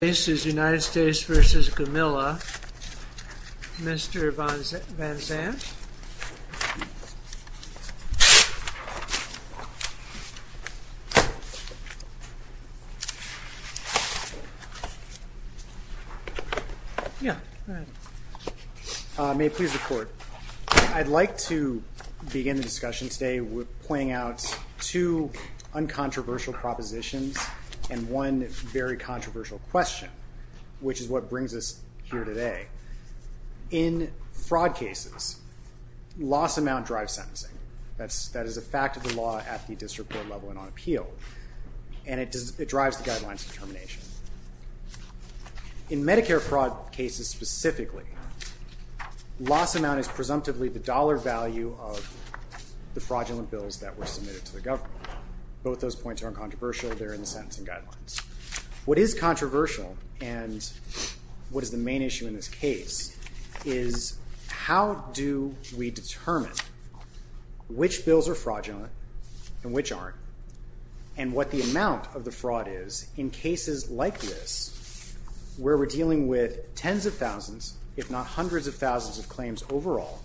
This is United States v. Gumila. Mr. Van Zandt. May I please report? I'd like to begin the discussion today with pointing out two uncontroversial propositions and one very controversial question, which is what brings us here today. In fraud cases, loss amount drives sentencing. That is a fact of the law at the district court level and on appeal. And it drives the guidelines of determination. In Medicare fraud cases specifically, loss amount is presumptively the dollar value of the fraudulent bills that were submitted to the government. Both those points are uncontroversial. They're in the sentencing guidelines. What is controversial and what is the main issue in this case is how do we determine which bills are fraudulent and which aren't and what the amount of the fraud is in cases like this where we're dealing with tens of thousands, if not hundreds of thousands of claims overall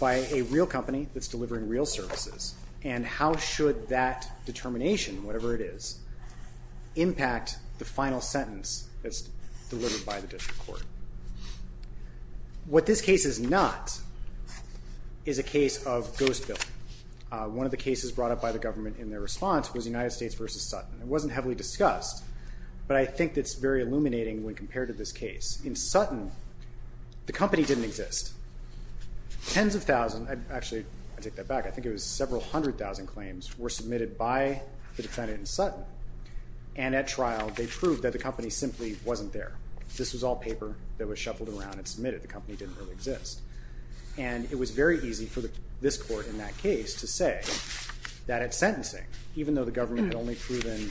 by a real company that's delivering real services and how should that determination, whatever it is, impact the final sentence that's delivered by the district court. What this case is not is a case of ghost billing. One of the cases brought up by the government in their response was United States v. Sutton. It wasn't heavily discussed, but I think it's very illuminating when compared to this case. In Sutton, the company didn't exist. Tens of thousands, actually I take that back, I think it was several hundred thousand claims were submitted by the defendant in Sutton. And at trial they proved that the company simply wasn't there. This was all paper that was shuffled around and submitted. The company didn't really exist. And it was very easy for this court in that case to say that at sentencing, even though the government had only proven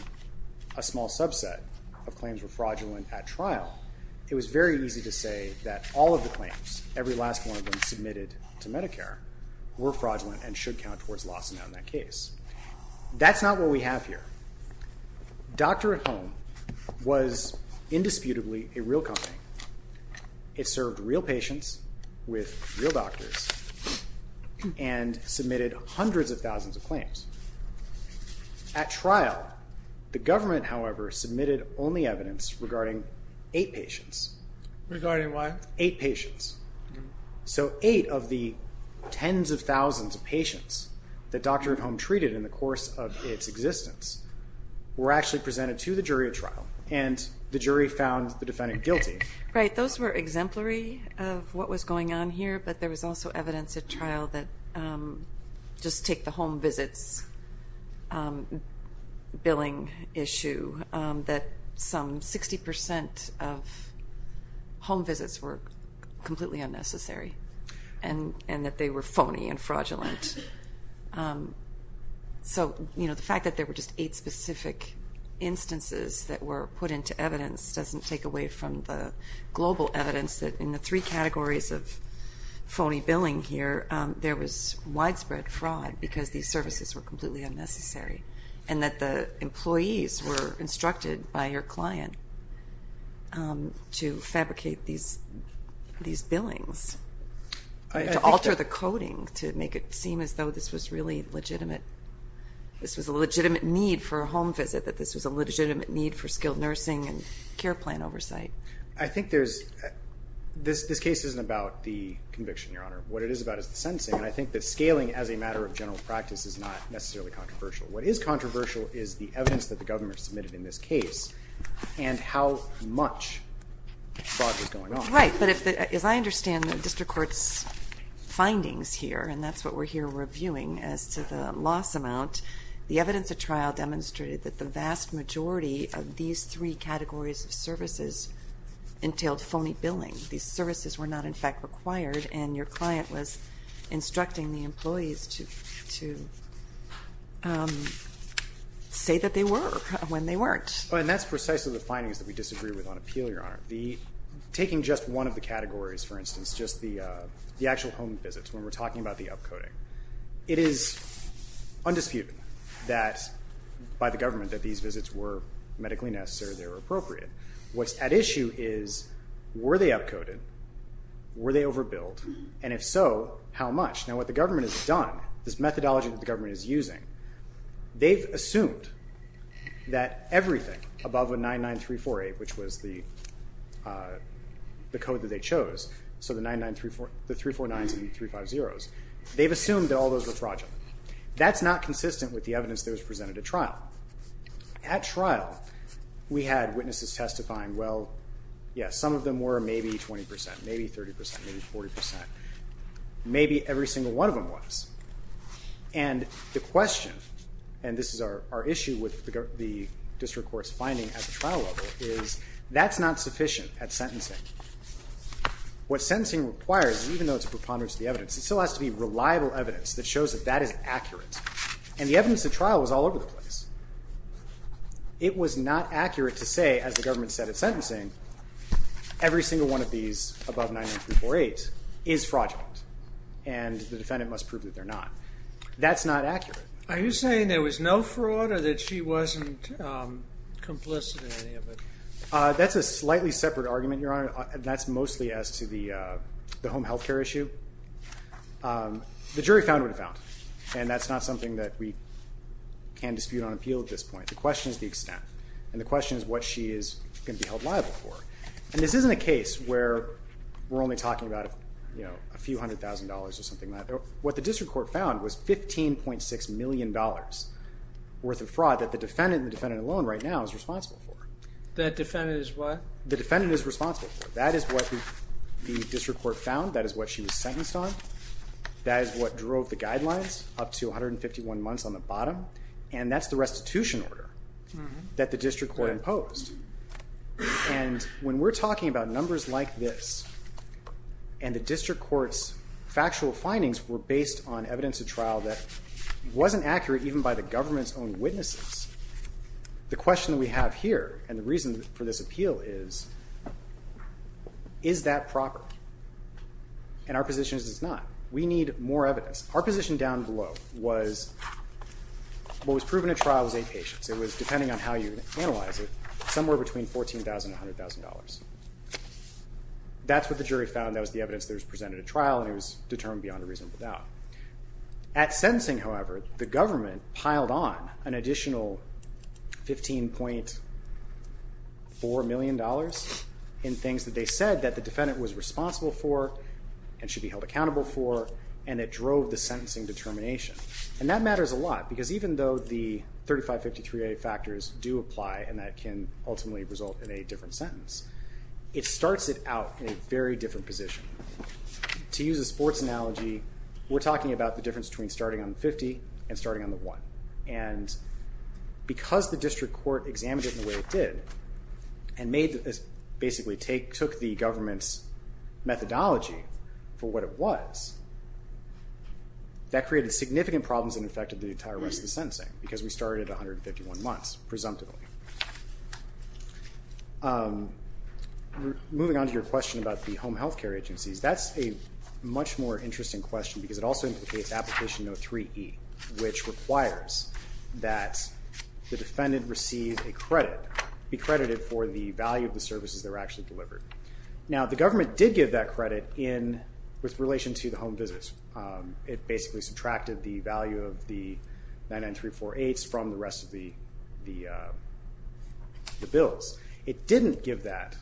a small subset of claims were fraudulent at trial, it was very easy to say that all of the claims, every last one of them submitted to Medicare, were fraudulent and should count towards loss in that case. That's not what we have here. Doctor at Home was indisputably a real company. It served real patients with real doctors and submitted hundreds of thousands of claims. At trial, the government, however, submitted only evidence regarding eight patients. Regarding what? Eight patients. So eight of the tens of thousands of patients that Doctor at Home treated in the course of its existence were actually presented to the jury at trial and the jury found the defendant guilty. Right. Those were exemplary of what was going on here, but there was also evidence at trial that, just take the home visits billing issue, that some 60% of home visits were completely unnecessary and that they were phony and fraudulent. So the fact that there were just eight specific instances that were put into evidence doesn't take away from the global evidence that in the three categories of phony billing here, there was widespread fraud because these services were completely unnecessary and that the employees were instructed by your client to fabricate these billings, to alter the coding to make it seem as though this was a legitimate need for a home visit, that this was a legitimate need for skilled nursing and care plan oversight. I think this case isn't about the conviction, Your Honor. What it is about is the sentencing, and I think that scaling as a matter of general practice is not necessarily controversial. What is controversial is the evidence that the government submitted in this case and how much fraud was going on. Right, but as I understand the district court's findings here, and that's what we're here reviewing as to the loss amount, the evidence at trial demonstrated that the vast majority of these three categories of services entailed phony billing. These services were not, in fact, required, and your client was instructing the employees to say that they were when they weren't. And that's precisely the findings that we disagree with on appeal, Your Honor. Taking just one of the categories, for instance, just the actual home visits, when we're talking about the upcoding, it is undisputed that by the government that these visits were medically necessary, they were appropriate. What's at issue is were they upcoded, were they overbilled, and if so, how much? Now what the government has done, this methodology that the government is using, they've assumed that everything above a 99348, which was the code that they chose, so the 349s and 350s, they've assumed that all those were fraudulent. That's not consistent with the evidence that was presented at trial. At trial, we had witnesses testifying, well, yes, some of them were maybe 20 percent, maybe 30 percent, maybe 40 percent. Maybe every single one of them was. And the question, and this is our issue with the district court's finding at the trial level, is that's not sufficient at sentencing. What sentencing requires, even though it's a preponderance of the evidence, it still has to be reliable evidence that shows that that is accurate. And the evidence at trial was all over the place. It was not accurate to say, as the government said at sentencing, every single one of these above 99348s is fraudulent, and the defendant must prove that they're not. That's not accurate. Are you saying there was no fraud or that she wasn't complicit in any of it? That's a slightly separate argument, Your Honor, and that's mostly as to the home health care issue. The jury found what it found, and that's not something that we can dispute on appeal at this point. The question is the extent, and the question is what she is going to be held liable for. And this isn't a case where we're only talking about a few hundred thousand dollars or something like that. What the district court found was $15.6 million worth of fraud that the defendant and the defendant alone right now is responsible for. That defendant is what? The defendant is responsible for. That is what the district court found. That is what she was sentenced on. That is what drove the guidelines up to 151 months on the bottom, and that's the restitution order that the district court imposed. And when we're talking about numbers like this and the district court's factual findings were based on evidence at trial that wasn't accurate even by the government's own witnesses, the question that we have here and the reason for this appeal is, is that proper? And our position is it's not. We need more evidence. Our position down below was what was proven at trial was eight patients. It was, depending on how you analyze it, somewhere between $14,000 and $100,000. That's what the jury found. That was the evidence that was presented at trial, and it was determined beyond a reasonable doubt. At sentencing, however, the government piled on an additional $15.4 million in things that they said that the defendant was responsible for and should be held accountable for, and it drove the sentencing determination. And that matters a lot because even though the 3553A factors do apply and that can ultimately result in a different sentence, it starts it out in a very different position. To use a sports analogy, we're talking about the difference between starting on the 50 and starting on the 1. And because the district court examined it in the way it did and basically took the government's methodology for what it was, that created significant problems and affected the entire rest of the sentencing because we started at 151 months, presumptively. Moving on to your question about the home health care agencies, that's a much more interesting question because it also indicates application 03E, which requires that the defendant receive a credit, be credited for the value of the services that were actually delivered. Now the government did give that credit with relation to the home visits. It basically subtracted the value of the 99348s from the rest of the bills. It didn't give that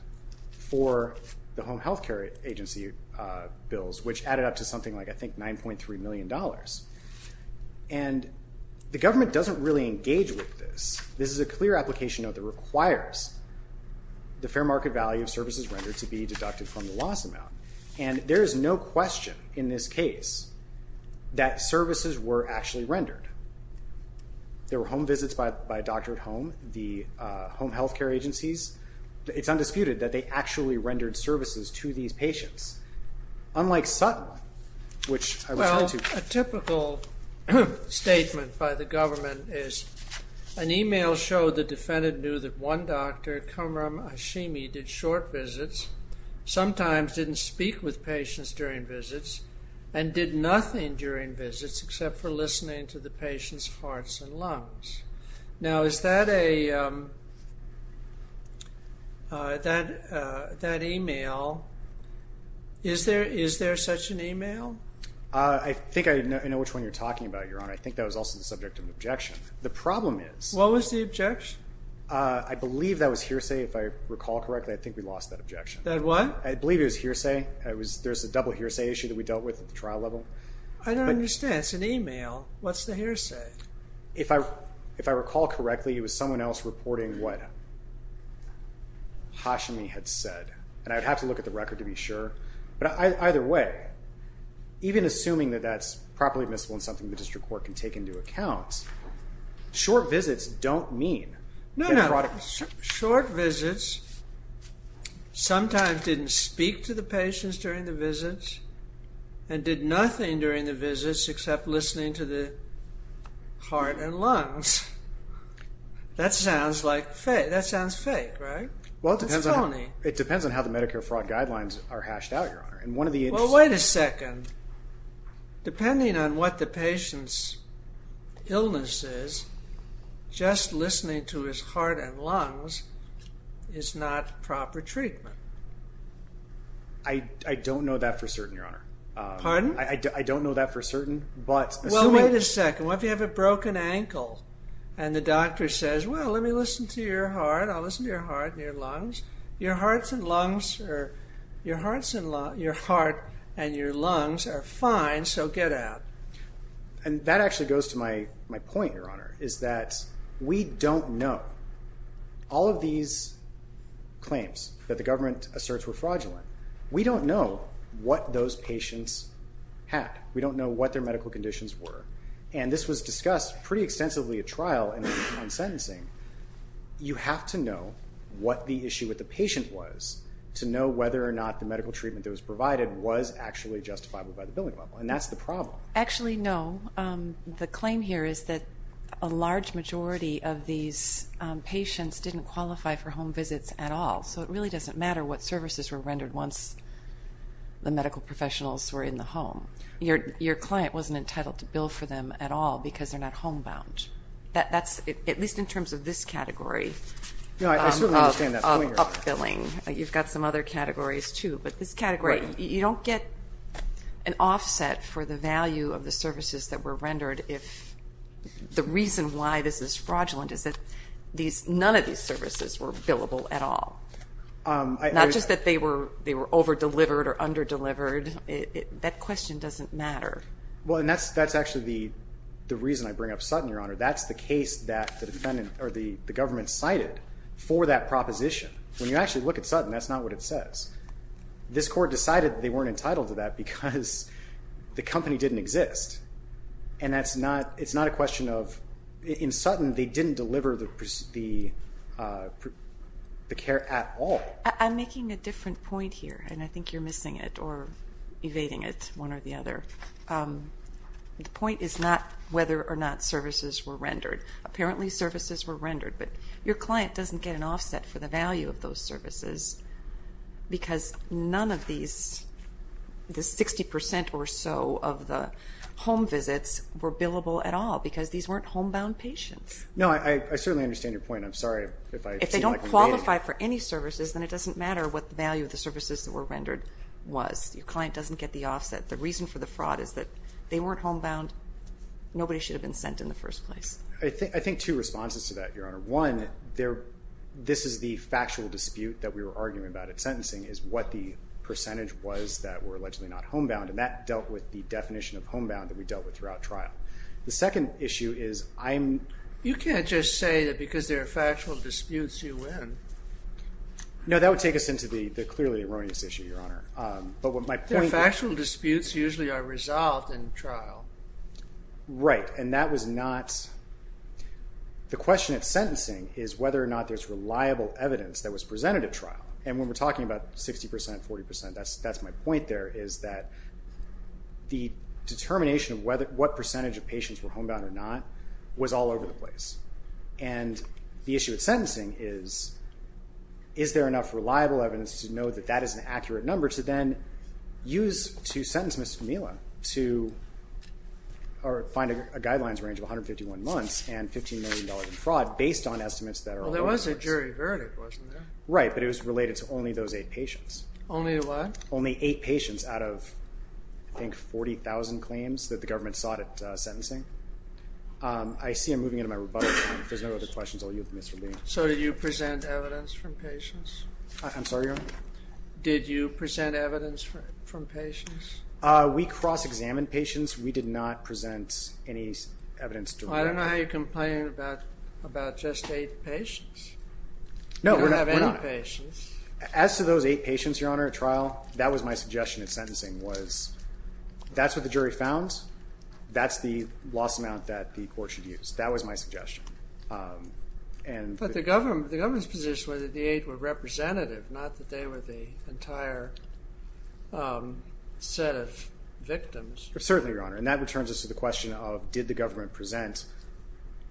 for the home health care agency bills, which added up to something like, I think, $9.3 million. And the government doesn't really engage with this. This is a clear application that requires the fair market value of services rendered to be deducted from the loss amount. And there is no question in this case that services were actually rendered. There were home visits by a doctor at home. The home health care agencies, it's undisputed that they actually rendered services to these patients. Unlike Sutton, which I was trying to... A typical statement by the government is, an email showed the defendant knew that one doctor, Kamram Hashimi, did short visits, sometimes didn't speak with patients during visits, and did nothing during visits except for listening to the patient's hearts and lungs. Now is that a... That email... Is there such an email? I think I know which one you're talking about, Your Honor. I think that was also the subject of an objection. The problem is... What was the objection? I believe that was hearsay, if I recall correctly. I think we lost that objection. That what? I believe it was hearsay. There's a double hearsay issue that we dealt with at the trial level. I don't understand. It's an email. What's the hearsay? If I recall correctly, it was someone else reporting what Hashimi had said. And I'd have to look at the record to be sure. But either way, even assuming that that's properly admissible and something the district court can take into account, short visits don't mean that fraud... No, no. Short visits, sometimes didn't speak to the patients during the visits, and did nothing during the visits except listening to the heart and lungs. That sounds like fake. That sounds fake, right? Well, it depends on... It's phony. Well, wait a second. Depending on what the patient's illness is, just listening to his heart and lungs is not proper treatment. I don't know that for certain, Your Honor. Pardon? I don't know that for certain, but assuming... Well, wait a second. What if you have a broken ankle and the doctor says, well, let me listen to your heart. I'll listen to your heart and your lungs. Your hearts and lungs are... Your hearts and lungs... Your heart and your lungs are fine, so get out. And that actually goes to my point, Your Honor, is that we don't know. All of these claims that the government asserts were fraudulent, we don't know what those patients had. We don't know what their medical conditions were. And this was discussed pretty extensively at trial and sentencing. You have to know what the issue with the patient was to know whether or not the medical treatment that was provided was actually justifiable by the billing level, and that's the problem. Actually, no. The claim here is that a large majority of these patients didn't qualify for home visits at all, so it really doesn't matter what services were rendered once the medical professionals were in the home. Your client wasn't entitled to bill for them at all because they're not homebound. That's at least in terms of this category of billing. You've got some other categories, too. But this category, you don't get an offset for the value of the services that were rendered if the reason why this is fraudulent is that none of these services were billable at all. Not just that they were over-delivered or under-delivered. That question doesn't matter. Well, and that's actually the reason I bring up Sutton, Your Honor. That's the case that the government cited for that proposition. When you actually look at Sutton, that's not what it says. This court decided they weren't entitled to that because the company didn't exist, and it's not a question of in Sutton they didn't deliver the care at all. I'm making a different point here, and I think you're missing it or evading it, one or the other. The point is not whether or not services were rendered. Apparently services were rendered, but your client doesn't get an offset for the value of those services because none of these 60% or so of the home visits were billable at all because these weren't homebound patients. No, I certainly understand your point. I'm sorry if I seem like I'm evading it. If they don't qualify for any services, then it doesn't matter what the value of the services that were rendered was. Your client doesn't get the offset. The reason for the fraud is that they weren't homebound. Nobody should have been sent in the first place. I think two responses to that, Your Honor. One, this is the factual dispute that we were arguing about at sentencing is what the percentage was that were allegedly not homebound, and that dealt with the definition of homebound that we dealt with throughout trial. The second issue is I'm... You can't just say that because there are factual disputes you win. No, that would take us into the clearly erroneous issue, Your Honor. But what my point... The factual disputes usually are resolved in trial. Right, and that was not... The question at sentencing is whether or not there's reliable evidence that was presented at trial, and when we're talking about 60%, 40%, that's my point there, is that the determination of what percentage of patients were homebound or not was all over the place. And the issue at sentencing is, is there enough reliable evidence to know that that is an accurate number to then use to sentence Mr. Mila to find a guidelines range of 151 months and $15 million in fraud based on estimates that are... Well, there was a jury verdict, wasn't there? Right, but it was related to only those eight patients. Only what? that the government sought at sentencing. I see I'm moving into my rebuttal time. If there's no other questions, I'll yield to Mr. Lee. So did you present evidence from patients? I'm sorry, Your Honor? Did you present evidence from patients? We cross-examined patients. We did not present any evidence directly. I don't know how you complain about just eight patients. No, we're not. You don't have any patients. As to those eight patients, Your Honor, at trial, that was my suggestion at sentencing, was that's what the jury found. That's the loss amount that the court should use. That was my suggestion. But the government's position was that the eight were representative, not that they were the entire set of victims. Certainly, Your Honor, and that returns us to the question of did the government present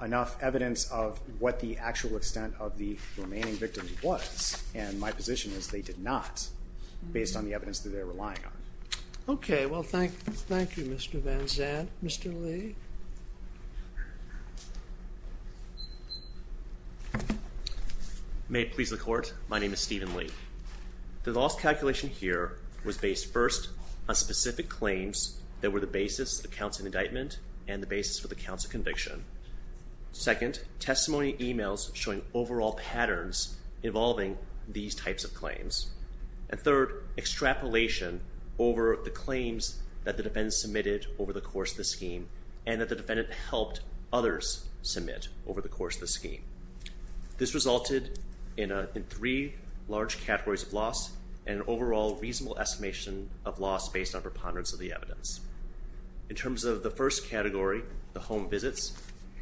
enough evidence of what the actual extent of the remaining victims was, and my position is they did not, based on the evidence that they were relying on. Okay. Well, thank you, Mr. Van Zandt. Mr. Lee? May it please the Court? My name is Stephen Lee. The loss calculation here was based, first, on specific claims that were the basis of the counts of indictment and the basis for the counts of conviction. Second, testimony emails showing overall patterns involving these types of claims. And third, extrapolation over the claims that the defendant submitted over the course of the scheme and that the defendant helped others submit over the course of the scheme. This resulted in three large categories of loss and an overall reasonable estimation of loss based on preponderance of the evidence. In terms of the first category, the home visits,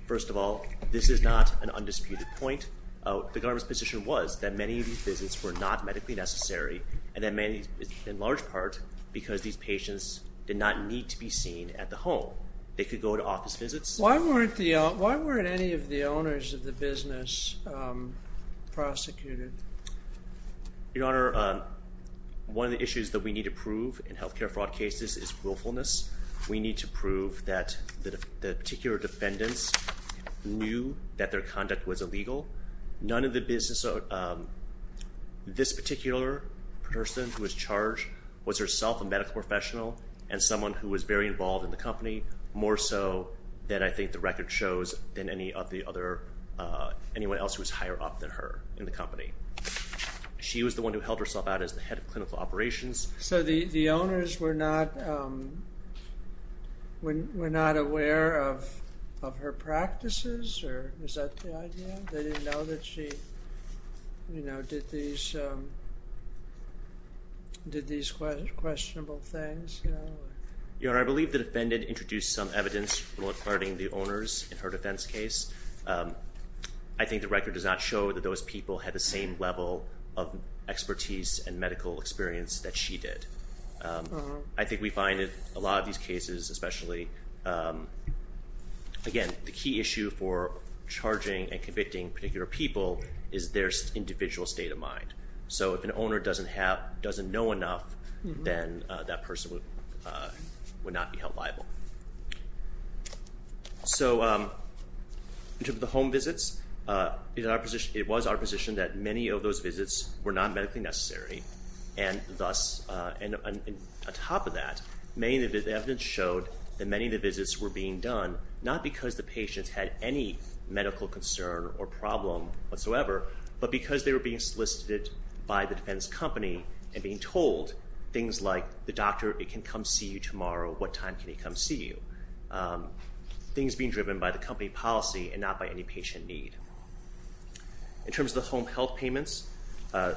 first of all, this is not an undisputed point. The government's position was that many of these visits were not medically necessary, and in large part, because these patients did not need to be seen at the home. They could go to office visits. Why weren't any of the owners of the business prosecuted? Your Honor, one of the issues that we need to prove in health care fraud cases is willfulness. We need to prove that the particular defendants knew that their conduct was illegal. This particular person who was charged was herself a medical professional and someone who was very involved in the company, more so than I think the record shows than anyone else who was higher up than her in the company. She was the one who held herself out as the head of clinical operations. So the owners were not aware of her practices? Or is that the idea? They didn't know that she did these questionable things? Your Honor, I believe the defendant introduced some evidence regarding the owners in her defense case. I think the record does not show that those people had the same level of expertise and medical experience that she did. I think we find that a lot of these cases, especially, again, the key issue for charging and convicting particular people is their individual state of mind. So if an owner doesn't know enough, then that person would not be held liable. So in terms of the home visits, it was our position that many of those visits were not medically necessary. And on top of that, the evidence showed that many of the visits were being done not because the patients had any medical concern or problem whatsoever, but because they were being solicited by the defense company and being told things like, the doctor can come see you tomorrow. What time can he come see you? Things being driven by the company policy and not by any patient need. In terms of the home health payments, the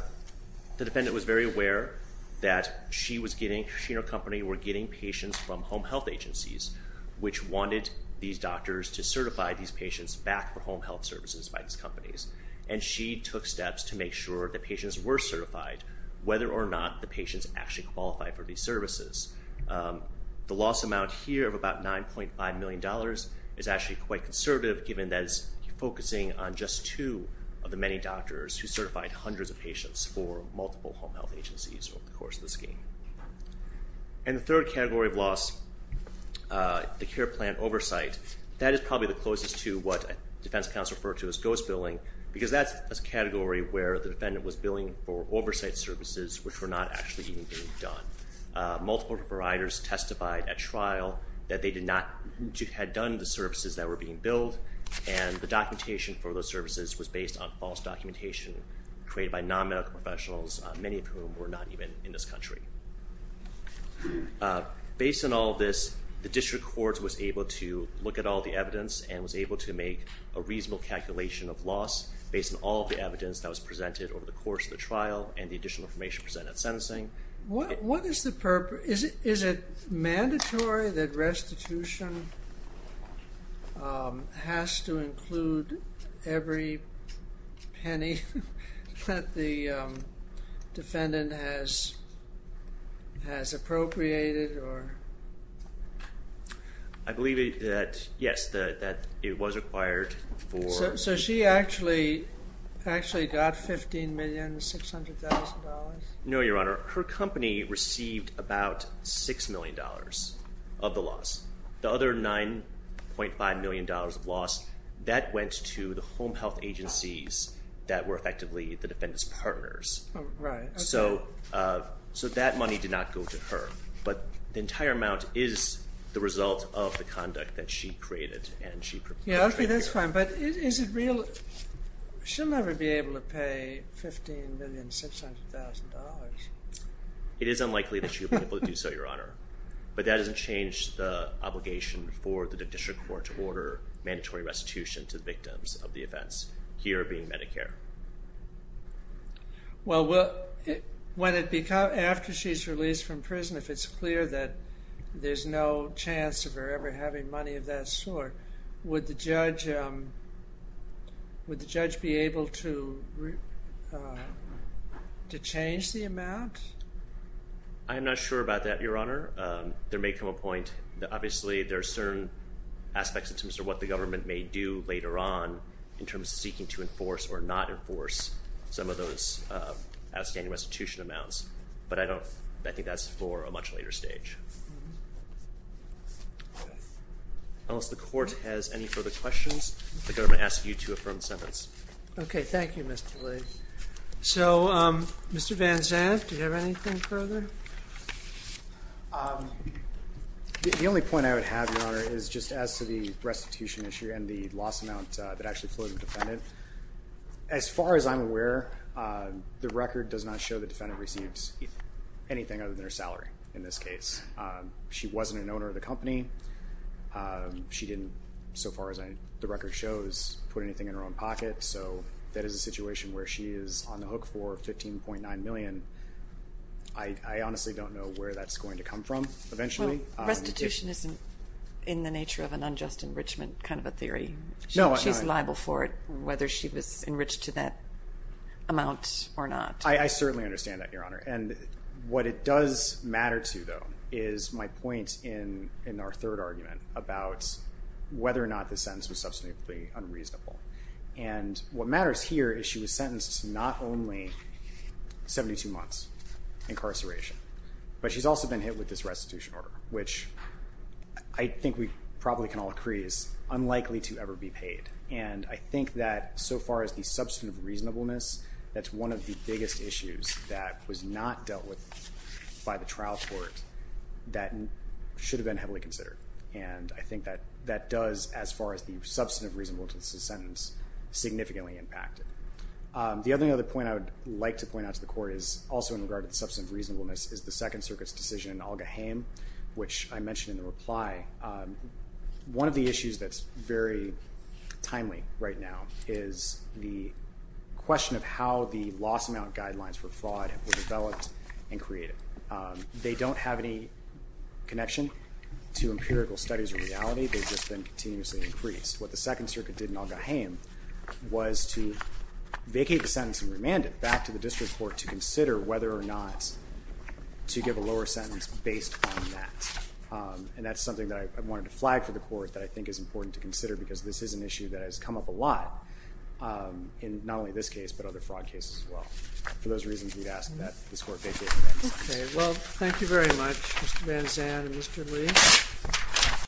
defendant was very aware that she and her company were getting patients from home health agencies, which wanted these doctors to certify these patients back for home health services by these companies. And she took steps to make sure the patients were certified, whether or not the patients actually qualified for these services. The loss amount here of about $9.5 million is actually quite conservative, given that it's focusing on just two of the many doctors who certified hundreds of patients for multiple home health agencies over the course of the scheme. And the third category of loss, the care plan oversight, that is probably the closest to what defense counsel referred to as ghost billing, because that's a category where the defendant was billing for oversight services which were not actually even being done. Multiple providers testified at trial that they had done the services that were being billed, and the documentation for those services was based on false documentation created by non-medical professionals, many of whom were not even in this country. Based on all this, the district court was able to look at all the evidence and was able to make a reasonable calculation of loss based on all of the evidence that was presented over the course of the trial and the additional information presented at sentencing. What is the purpose? Is it mandatory that restitution has to include every penny that the defendant has appropriated? I believe that, yes, that it was required for... So she actually got $15,600,000? No, Your Honor. Her company received about $6 million of the loss. The other $9.5 million of loss, that went to the home health agencies that were effectively the defendant's partners. So that money did not go to her, but the entire amount is the result of the conduct that she created and she... Okay, that's fine, but is it real... She'll never be able to pay $15,600,000. It is unlikely that she'll be able to do so, Your Honor, but that doesn't change the obligation for the district court to order mandatory restitution to the victims of the offense, here being Medicare. Well, when it becomes... After she's released from prison, if it's clear that there's no chance of her ever having money of that sort, would the judge be able to change the amount? I am not sure about that, Your Honor. There may come a point... Obviously, there are certain aspects in terms of what the government may do later on in terms of seeking to enforce or not enforce some of those outstanding restitution amounts, but I don't... I think that's for a much later stage. Unless the court has any further questions, the government asks you to affirm the sentence. Okay, thank you, Mr. Lee. So, Mr. Van Zandt, do you have anything further? The only point I would have, Your Honor, is just as to the restitution issue and the loss amount that actually flows to the defendant. As far as I'm aware, the record does not show the defendant receives anything other than her salary in this case. She wasn't an owner of the company. She didn't, so far as the record shows, put anything in her own pocket, so that is a situation where she is on the hook for $15.9 million. I honestly don't know where that's going to come from eventually. Well, restitution isn't, in the nature of an unjust enrichment, kind of a theory. She's liable for it, whether she was enriched to that amount or not. I certainly understand that, Your Honor. And what it does matter to, though, is my point in our third argument about whether or not the sentence was substantively unreasonable. And what matters here is she was sentenced to not only 72 months incarceration, but she's also been hit with this restitution order, which I think we probably can all agree is unlikely to ever be paid. And I think that, so far as the substantive reasonableness, that's one of the biggest issues that was not dealt with by the trial court that should have been heavily considered. And I think that does, as far as the substantive reasonableness of the sentence, significantly impact it. The other point I would like to point out to the court is also in regard to the substantive reasonableness is the Second Circuit's decision in Olga Haim, which I mentioned in the reply. One of the issues that's very timely right now is the question of how the loss amount guidelines for fraud were developed and created. They don't have any connection to empirical studies or reality. They've just been continuously increased. What the Second Circuit did in Olga Haim was to vacate the sentence and remand it back to the district court to consider whether or not to give a lower sentence based on that. And that's something that I wanted to flag for the court that I think is important to consider because this is an issue that has come up a lot in not only this case but other fraud cases as well. For those reasons, we'd ask that this court vacate the sentence. Okay. Well, thank you very much, Mr. Van Zandt and Mr. Lee.